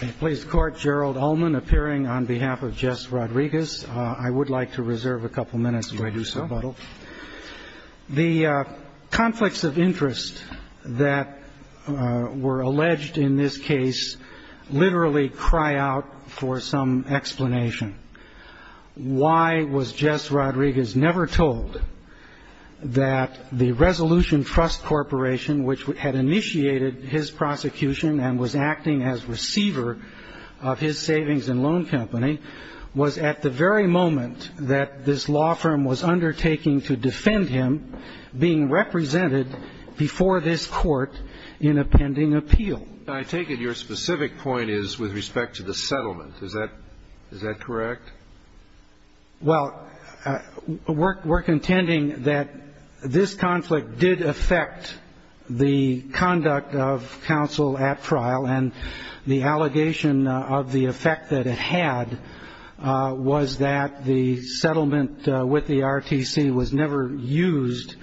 The conflicts of interest that were alleged in this case literally cry out for some explanation. Why was Jess Rodrigues never told that the Resolution Trust Corporation, which had initiated his prosecution and was acting as receiver of his savings and loan company, was at the very moment that this law firm was undertaking to defend him being represented before this court in a pending appeal? I take it your specific point is with respect to the settlement. Is that correct? Well, we're contending that this conflict did affect the conduct of counsel at trial, and the allegation of the effect that it had was that the settlement with the RTC was never used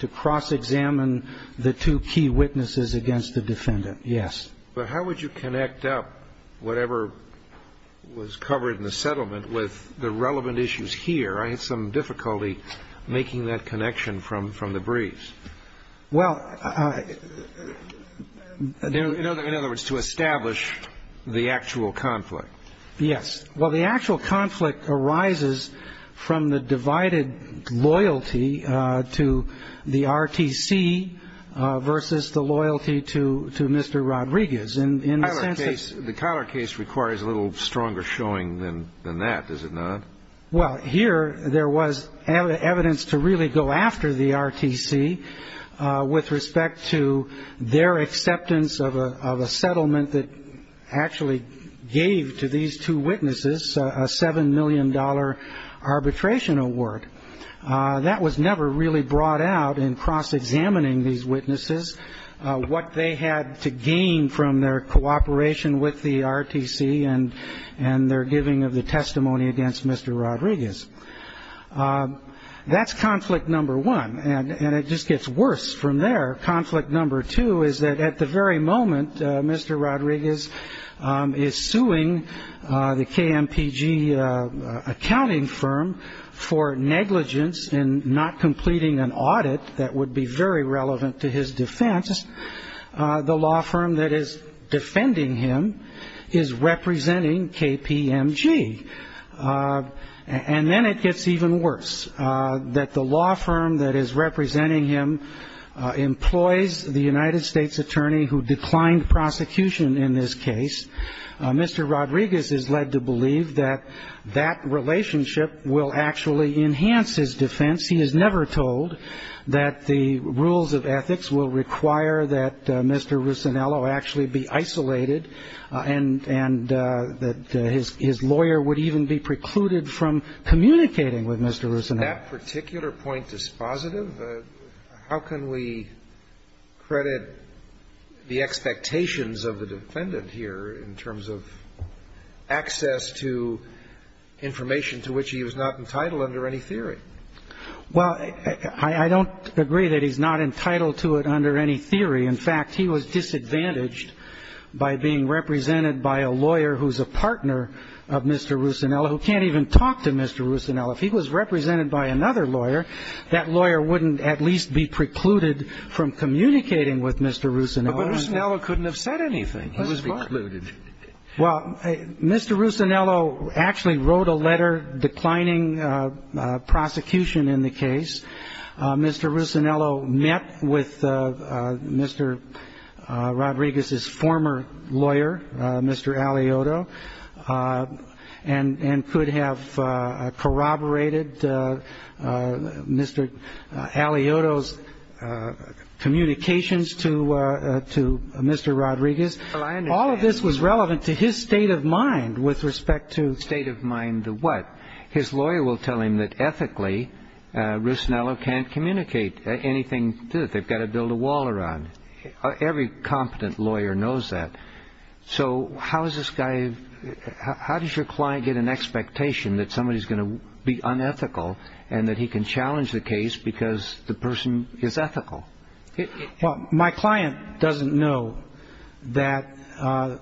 to cross-examine the two key witnesses against the defendant. Yes. But how would you connect up whatever was covered in the settlement with the relevant issues here? I had some difficulty making that connection from the briefs. Well, I... In other words, to establish the actual conflict. Yes. Well, the actual conflict arises from the divided loyalty to the RTC versus the loyalty to Mr. Rodrigues in the sense that... The Collar case requires a little stronger showing than that, does it not? Well, here there was evidence to really go after the RTC with respect to their acceptance of a settlement that actually gave to these two witnesses a $7 million arbitration award. That was never really brought out in cross-examining these witnesses, what they had to gain from their cooperation with the RTC and their giving of the testimony against Mr. Rodrigues. That's conflict number one. And it just gets worse from there. Conflict number two is that at the very moment Mr. Rodrigues is suing the KMPG accounting firm for negligence in not completing an audit that would be very relevant to his defense, the law firm that is defending him is representing KPMG. And then it gets even worse, that the law firm that is representing him employs the United States attorney who declined prosecution in this case. Mr. Rodrigues is led to believe that that relationship will actually enhance his defense. He is never told that the rules of ethics will require that Mr. Ruscinello actually be isolated and that his lawyer would even be precluded from communicating with Mr. Ruscinello. That particular point is positive? How can we credit the expectations of the defendant here in terms of access to information to which he was not entitled under any theory? Well, I don't agree that he's not entitled to it under any theory. In fact, he was disadvantaged by being represented by a lawyer who's a partner of Mr. Ruscinello who can't even talk to Mr. Ruscinello. If he was represented by another lawyer, that lawyer wouldn't at least be precluded from communicating with Mr. Ruscinello. But Ruscinello couldn't have said anything. He was barred. Well, Mr. Ruscinello actually wrote a letter declining prosecution in the case. Mr. Ruscinello met with Mr. Rodrigues' former lawyer, Mr. Alioto, and could have corroborated Mr. Alioto's communications to Mr. Rodrigues. All of this was relevant to his state of mind with respect to... State of mind to what? His lawyer will tell him that ethically, Ruscinello can't communicate anything to him. They've got to build a wall around. Every competent lawyer knows that. So how does your client get an expectation that somebody's going to be unethical and that he can challenge the case because the person is ethical? Well, my client doesn't know that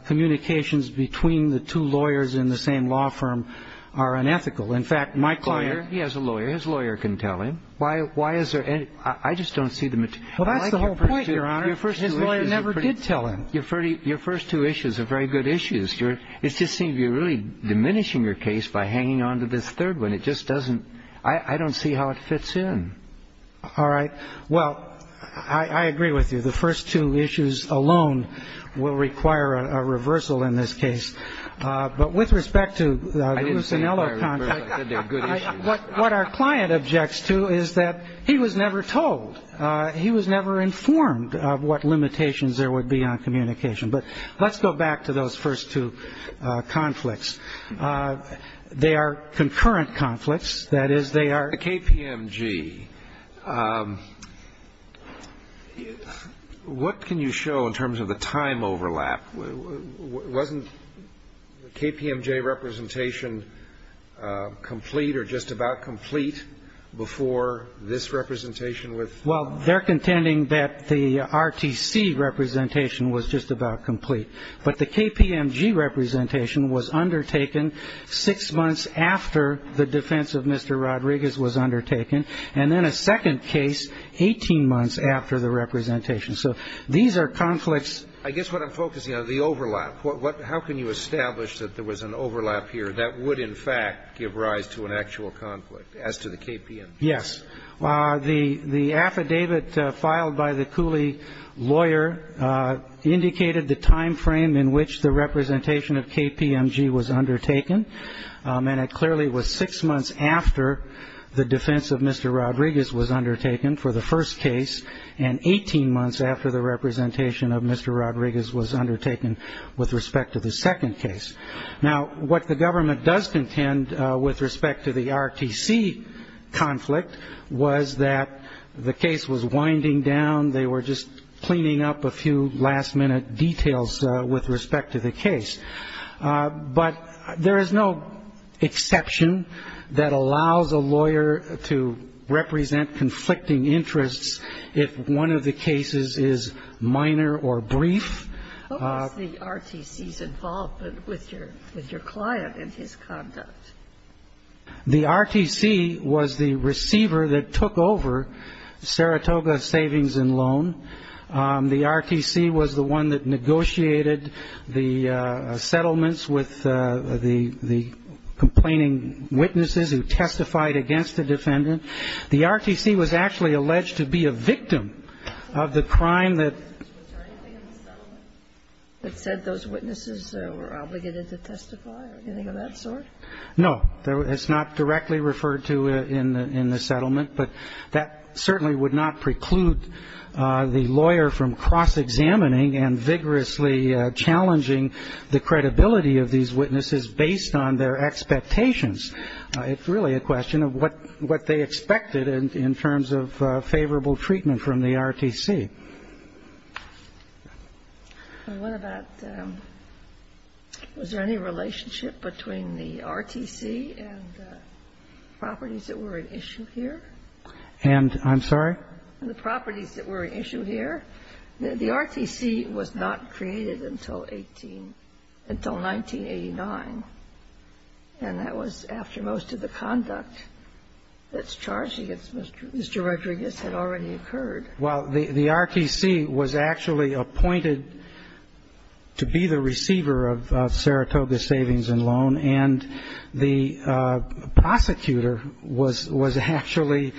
communications between the two lawyers in the same law firm are unethical. In fact, my client... He has a lawyer. His lawyer can tell him. Why is there any – I just don't see the... Well, that's the whole point, Your Honor. His lawyer never did tell him. Your first two issues are very good issues. It just seems you're really diminishing your case by hanging on to this third one. It just doesn't – I don't see how it fits in. All right. Well, I agree with you. The first two issues alone will require a reversal in this case. But with respect to the Ruscinello conflict, what our client objects to is that he was never told. He was never informed of what limitations there would be on communication. But let's go back to those first two conflicts. They are concurrent conflicts. That is, they are... KPMG. What can you show in terms of the time overlap? Wasn't the KPMG representation complete or just about complete before this representation with... Well, they're contending that the RTC representation was just about complete. But the KPMG representation was undertaken six months after the defense of Mr. Rodriguez was undertaken, and then a second case 18 months after the representation. So these are conflicts... I guess what I'm focusing on is the overlap. How can you establish that there was an overlap here that would in fact give rise to an actual conflict as to the KPMG? Yes. The affidavit filed by the Cooley lawyer indicated the time frame in which the representation of KPMG was undertaken. And it clearly was six months after the defense of Mr. Rodriguez was undertaken for the first case and 18 months after the representation of Mr. Rodriguez was undertaken with respect to the second case. Now, what the government does contend with respect to the RTC conflict was that the case was winding down. They were just cleaning up a few last-minute details with respect to the case. But there is no exception that allows a lawyer to represent conflicting interests if one of the cases is minor or brief. What was the RTC's involvement with your client and his conduct? The RTC was the receiver that took over Saratoga Savings and Loan. The RTC was the one that negotiated the settlements with the complaining witnesses who testified against the defendant. The RTC was actually alleged to be a victim of the crime that ---- Was there anything in the settlement that said those witnesses were obligated to testify or anything of that sort? No. It's not directly referred to in the settlement. But that certainly would not preclude the lawyer from cross-examining and vigorously challenging the credibility of these witnesses based on their expectations. It's really a question of what they expected in terms of favorable treatment from the RTC. And what about ---- was there any relationship between the RTC and the properties that were at issue here? And I'm sorry? The properties that were at issue here. The RTC was not created until 18 ---- until 1989. And that was after most of the conduct that's charged against Mr. Rodriguez had already occurred. Well, the RTC was actually appointed to be the receiver of Saratoga Savings and Loan. And the prosecutor was actually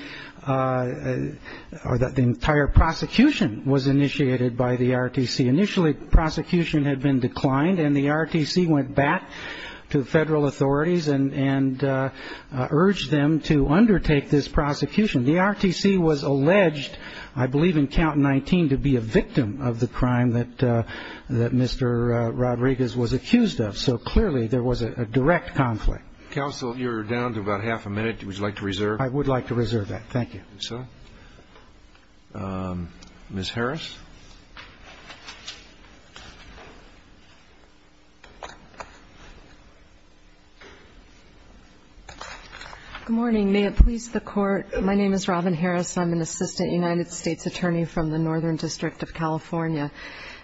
---- or the entire prosecution was initiated by the RTC. Initially, prosecution had been declined. And the RTC went back to federal authorities and urged them to undertake this prosecution. The RTC was alleged, I believe in Count 19, to be a victim of the crime that Mr. Rodriguez was accused of. So clearly, there was a direct conflict. Counsel, you're down to about half a minute. Would you like to reserve? I would like to reserve that. Thank you. So, Ms. Harris? Good morning. May it please the Court, my name is Robin Harris. I'm an assistant United States attorney from the Northern District of California.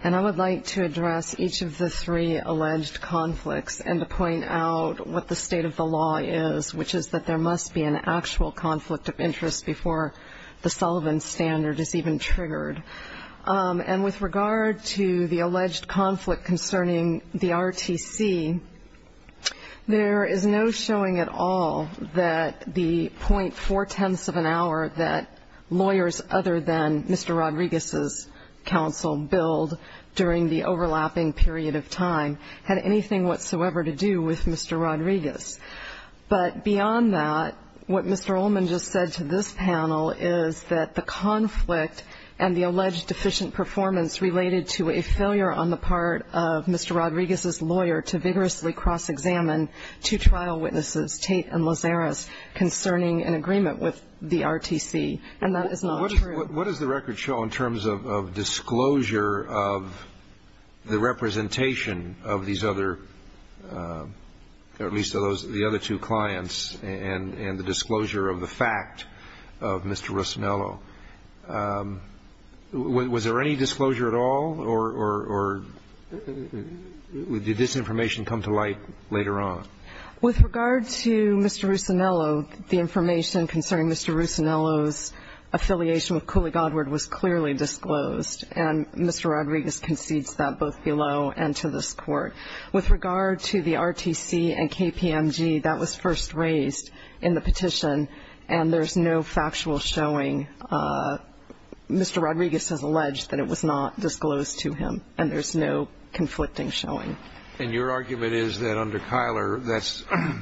And I would like to address each of the three alleged conflicts and to point out what the state of the law is, which is that there must be an actual conflict of interest before the Sullivan Standard is even triggered. And with regard to the alleged conflict concerning the RTC, there is no showing at all that the .4 tenths of an hour that lawyers other than Mr. Rodriguez's counsel billed during the overlapping period of time had anything whatsoever to do with Mr. Rodriguez. But beyond that, what Mr. Ullman just said to this panel is that the conflict and the alleged deficient performance related to a failure on the part of Mr. Rodriguez's lawyer to vigorously cross-examine two trial witnesses, Tate and Lazarus, concerning an agreement with the RTC. And that is not true. What does the record show in terms of disclosure of the representation of these other, at least of the other two clients, and the disclosure of the fact of Mr. Russinello? Was there any disclosure at all, or did this information come to light later on? With regard to Mr. Russinello, the information concerning Mr. Russinello's affiliation with Cooley Godward was clearly disclosed, and Mr. Rodriguez concedes that both below and to this Court. With regard to the RTC and KPMG, that was first raised in the petition, and there's no factual showing. Mr. Rodriguez has alleged that it was not disclosed to him, and there's no conflicting showing. And your argument is that under Kyler,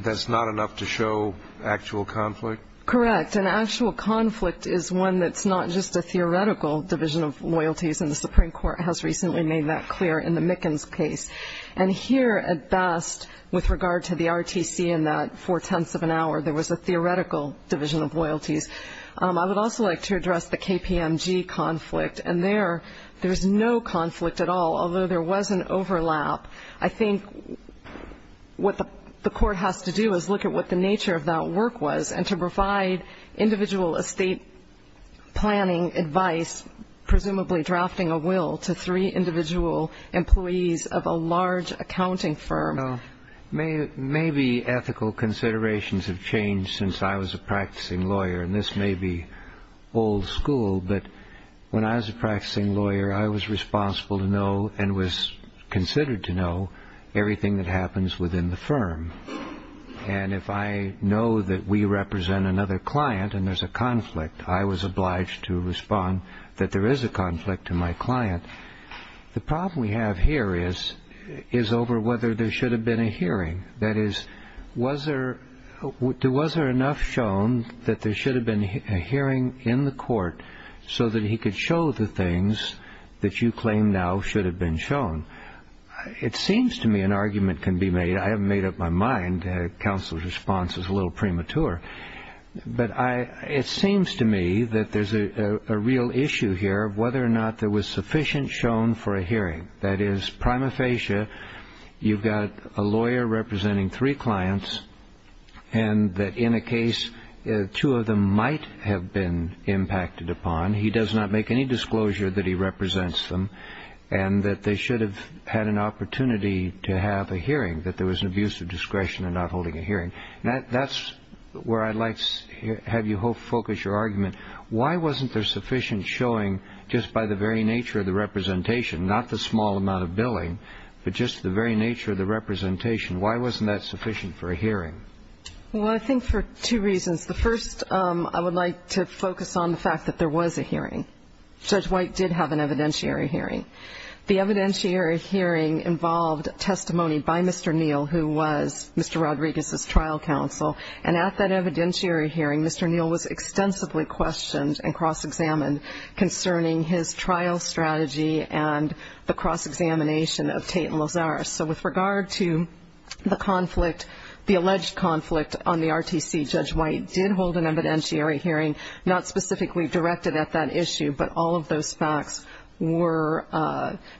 that's not enough to show actual conflict? Correct. And actual conflict is one that's not just a theoretical division of loyalties, and the Supreme Court has recently made that clear in the Mickens case. And here, at best, with regard to the RTC in that four-tenths of an hour, there was a theoretical division of loyalties. I would also like to address the KPMG conflict, and there, there's no conflict at all, although there was an overlap. I think what the Court has to do is look at what the nature of that work was, and to provide individual estate planning advice, presumably drafting a will to three individual employees of a large accounting firm. Maybe ethical considerations have changed since I was a practicing lawyer, and this may be old school, but when I was a practicing lawyer, I was responsible to know and was considered to know everything that happens within the firm. And if I know that we represent another client and there's a conflict, I was obliged to respond that there is a conflict to my client. The problem we have here is over whether there should have been a hearing. That is, was there enough shown that there should have been a hearing in the court so that he could show the things that you claim now should have been shown? It seems to me an argument can be made. I haven't made up my mind. Counsel's response is a little premature. But it seems to me that there's a real issue here of whether or not there was sufficient shown for a hearing. That is, prima facie, you've got a lawyer representing three clients, and that in a case two of them might have been impacted upon. He does not make any disclosure that he represents them, and that they should have had an opportunity to have a hearing, that there was an abuse of discretion in not holding a hearing. That's where I'd like to have you focus your argument. Why wasn't there sufficient showing just by the very nature of the representation, not the small amount of billing, but just the very nature of the representation? Why wasn't that sufficient for a hearing? Well, I think for two reasons. The first, I would like to focus on the fact that there was a hearing. Judge White did have an evidentiary hearing. The evidentiary hearing involved testimony by Mr. Neal, who was Mr. Rodriguez's trial counsel. And at that evidentiary hearing, Mr. Neal was extensively questioned and cross-examined concerning his trial strategy and the cross-examination of Tate and Lozares. So with regard to the conflict, the alleged conflict on the RTC, Judge White did hold an evidentiary hearing, not specifically directed at that issue, but all of those facts were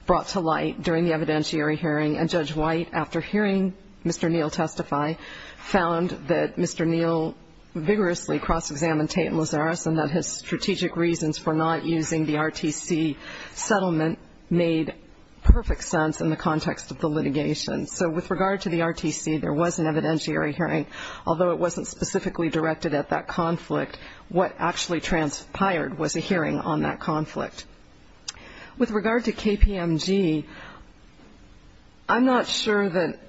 brought to light during the evidentiary hearing. And Judge White, after hearing Mr. Neal testify, found that Mr. Neal vigorously cross-examined Tate and Lozares and that his strategic reasons for not using the RTC settlement made perfect sense in the context of the litigation. So with regard to the RTC, there was an evidentiary hearing. Although it wasn't specifically directed at that conflict, what actually transpired was a hearing on that conflict. With regard to KPMG, I'm not sure that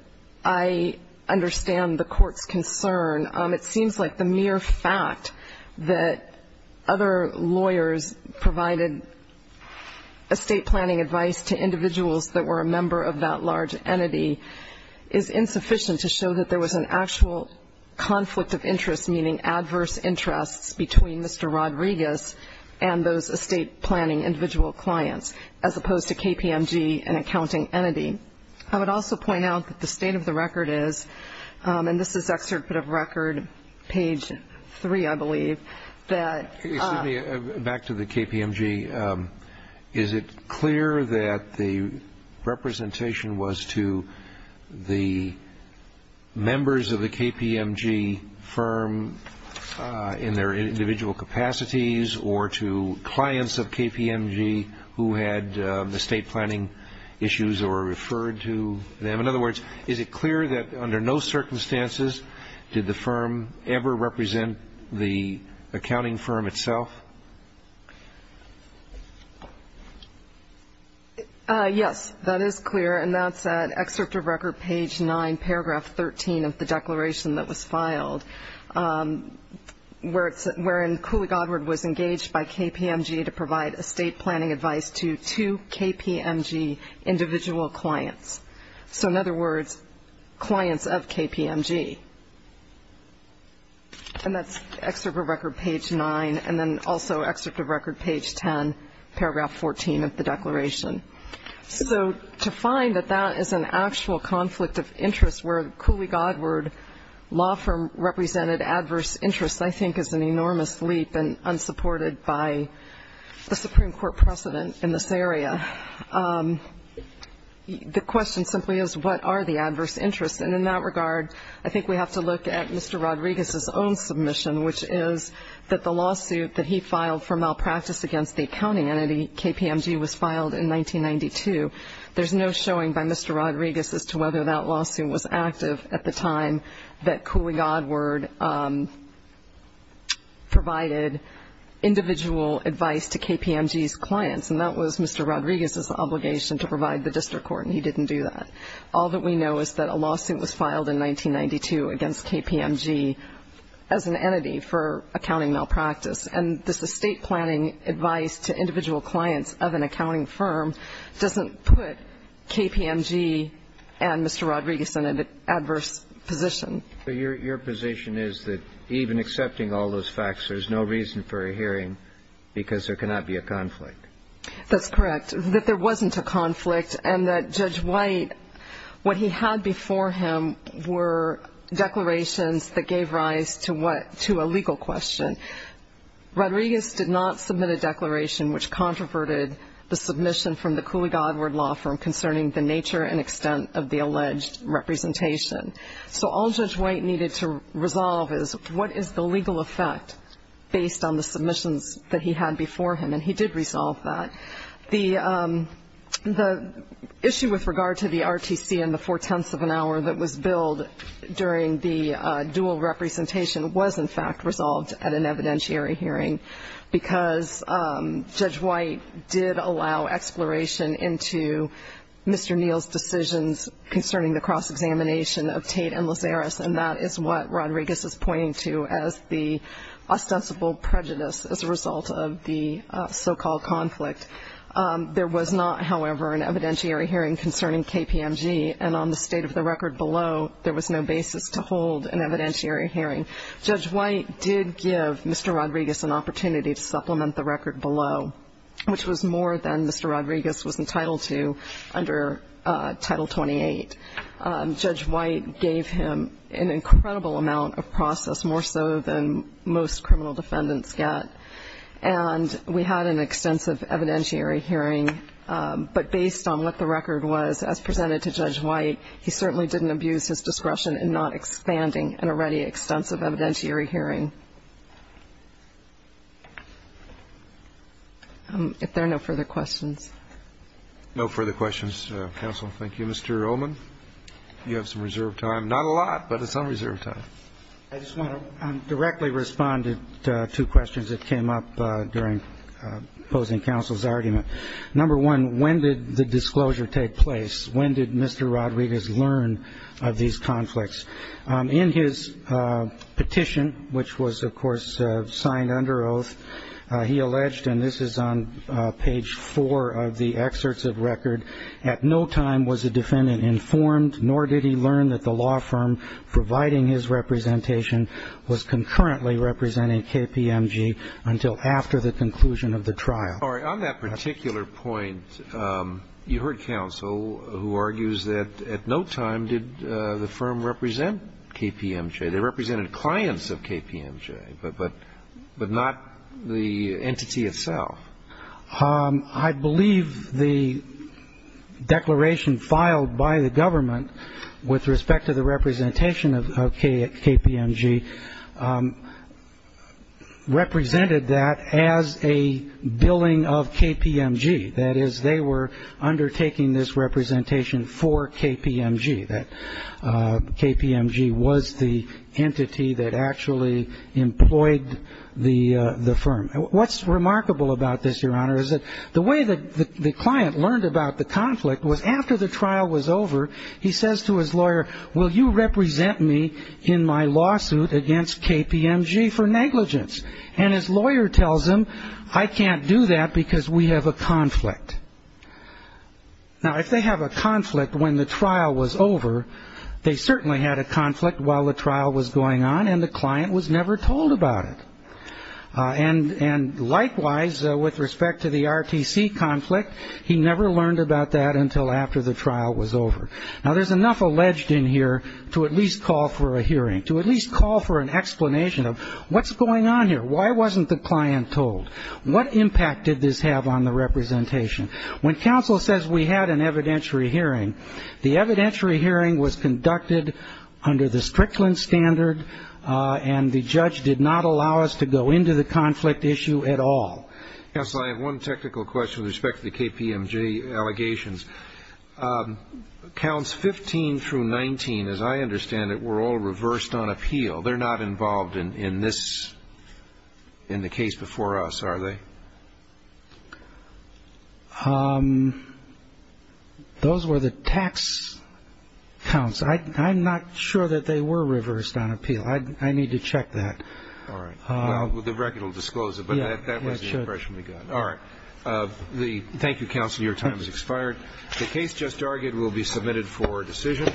I understand the court's concern. It seems like the mere fact that other lawyers provided estate planning advice to individuals that were a member of that large entity is insufficient to show that there was an actual conflict of interest, meaning adverse interests, between Mr. Rodriguez and those estate planning individual clients, as opposed to KPMG, an accounting entity. I would also point out that the state of the record is, and this is Excerpt of Record, page 3, I believe, that ---- Back to the KPMG. Is it clear that the representation was to the members of the KPMG firm in their individual capacities or to clients of KPMG who had estate planning issues or referred to them? In other words, is it clear that under no circumstances did the firm ever represent the accounting firm itself? Yes, that is clear, and that's at Excerpt of Record, page 9, paragraph 13 of the declaration that was filed, wherein Cooley Godward was engaged by KPMG to provide estate planning advice to two KPMG individual clients. So, in other words, clients of KPMG. And that's Excerpt of Record, page 9, and then also Excerpt of Record, page 10, paragraph 14 of the declaration. So to find that that is an actual conflict of interest where Cooley Godward law firm represented adverse interests, I think is an enormous leap and unsupported by the Supreme Court precedent in this area. The question simply is, what are the adverse interests? And in that regard, I think we have to look at Mr. Rodriguez's own submission, which is that the lawsuit that he filed for malpractice against the accounting entity, KPMG, was filed in 1992. There's no showing by Mr. Rodriguez as to whether that lawsuit was active at the time that Cooley Godward provided individual advice to KPMG's clients, and that was Mr. Rodriguez's obligation to provide the district court, and he didn't do that. All that we know is that a lawsuit was filed in 1992 against KPMG as an entity for accounting malpractice, and this estate planning advice to individual clients of an accounting firm doesn't put KPMG and Mr. Rodriguez in an adverse position. So your position is that even accepting all those facts, there's no reason for a hearing because there cannot be a conflict? That's correct, that there wasn't a conflict and that Judge White, what he had before him were declarations that gave rise to a legal question. Rodriguez did not submit a declaration which controverted the submission from the Cooley Godward law firm concerning the nature and extent of the alleged representation. So all Judge White needed to resolve is what is the legal effect based on the submissions that he had before him, and he did resolve that. The issue with regard to the RTC and the four-tenths of an hour that was billed during the dual representation was, in fact, and that is what Rodriguez is pointing to as the ostensible prejudice as a result of the so-called conflict. There was not, however, an evidentiary hearing concerning KPMG, and on the state of the record below, there was no basis to hold an evidentiary hearing. Judge White did give Mr. Rodriguez an opportunity to supplement the record below, which was more than Mr. Rodriguez was entitled to under Title 28. Judge White gave him an incredible amount of process, more so than most criminal defendants get. And we had an extensive evidentiary hearing, but based on what the record was as presented to Judge White, he certainly didn't abuse his discretion in not expanding an already extensive evidentiary hearing. If there are no further questions. No further questions. Counsel, thank you. Mr. Ullman, you have some reserved time. Not a lot, but some reserved time. I just want to directly respond to two questions that came up during opposing counsel's argument. Number one, when did the disclosure take place? When did Mr. Rodriguez learn of these conflicts? In his petition, which was, of course, signed under oath, he alleged, and this is on page four of the excerpts of record, at no time was the defendant informed nor did he learn that the law firm providing his representation was concurrently representing KPMG until after the conclusion of the trial. On that particular point, you heard counsel who argues that at no time did the firm represent KPMG. They represented clients of KPMG, but not the entity itself. I believe the declaration filed by the government with respect to the representation of KPMG represented that as a billing of KPMG. That is, they were undertaking this representation for KPMG. KPMG was the entity that actually employed the firm. What's remarkable about this, Your Honor, is that the way that the client learned about the conflict was after the trial was over, he says to his lawyer, will you represent me in my lawsuit against KPMG for negligence? And his lawyer tells him, I can't do that because we have a conflict. Now, if they have a conflict when the trial was over, they certainly had a conflict while the trial was going on and the client was never told about it. And likewise, with respect to the RTC conflict, he never learned about that until after the trial was over. Now, there's enough alleged in here to at least call for a hearing, to at least call for an explanation of what's going on here? Why wasn't the client told? What impact did this have on the representation? When counsel says we had an evidentiary hearing, the evidentiary hearing was conducted under the Strickland standard and the judge did not allow us to go into the conflict issue at all. Counsel, I have one technical question with respect to the KPMG allegations. Counts 15 through 19, as I understand it, were all reversed on appeal. They're not involved in this, in the case before us, are they? Those were the tax counts. I'm not sure that they were reversed on appeal. I need to check that. All right. Well, the record will disclose it, but that was the impression we got. All right. Thank you, counsel. Your time has expired. The case just argued will be submitted for decision.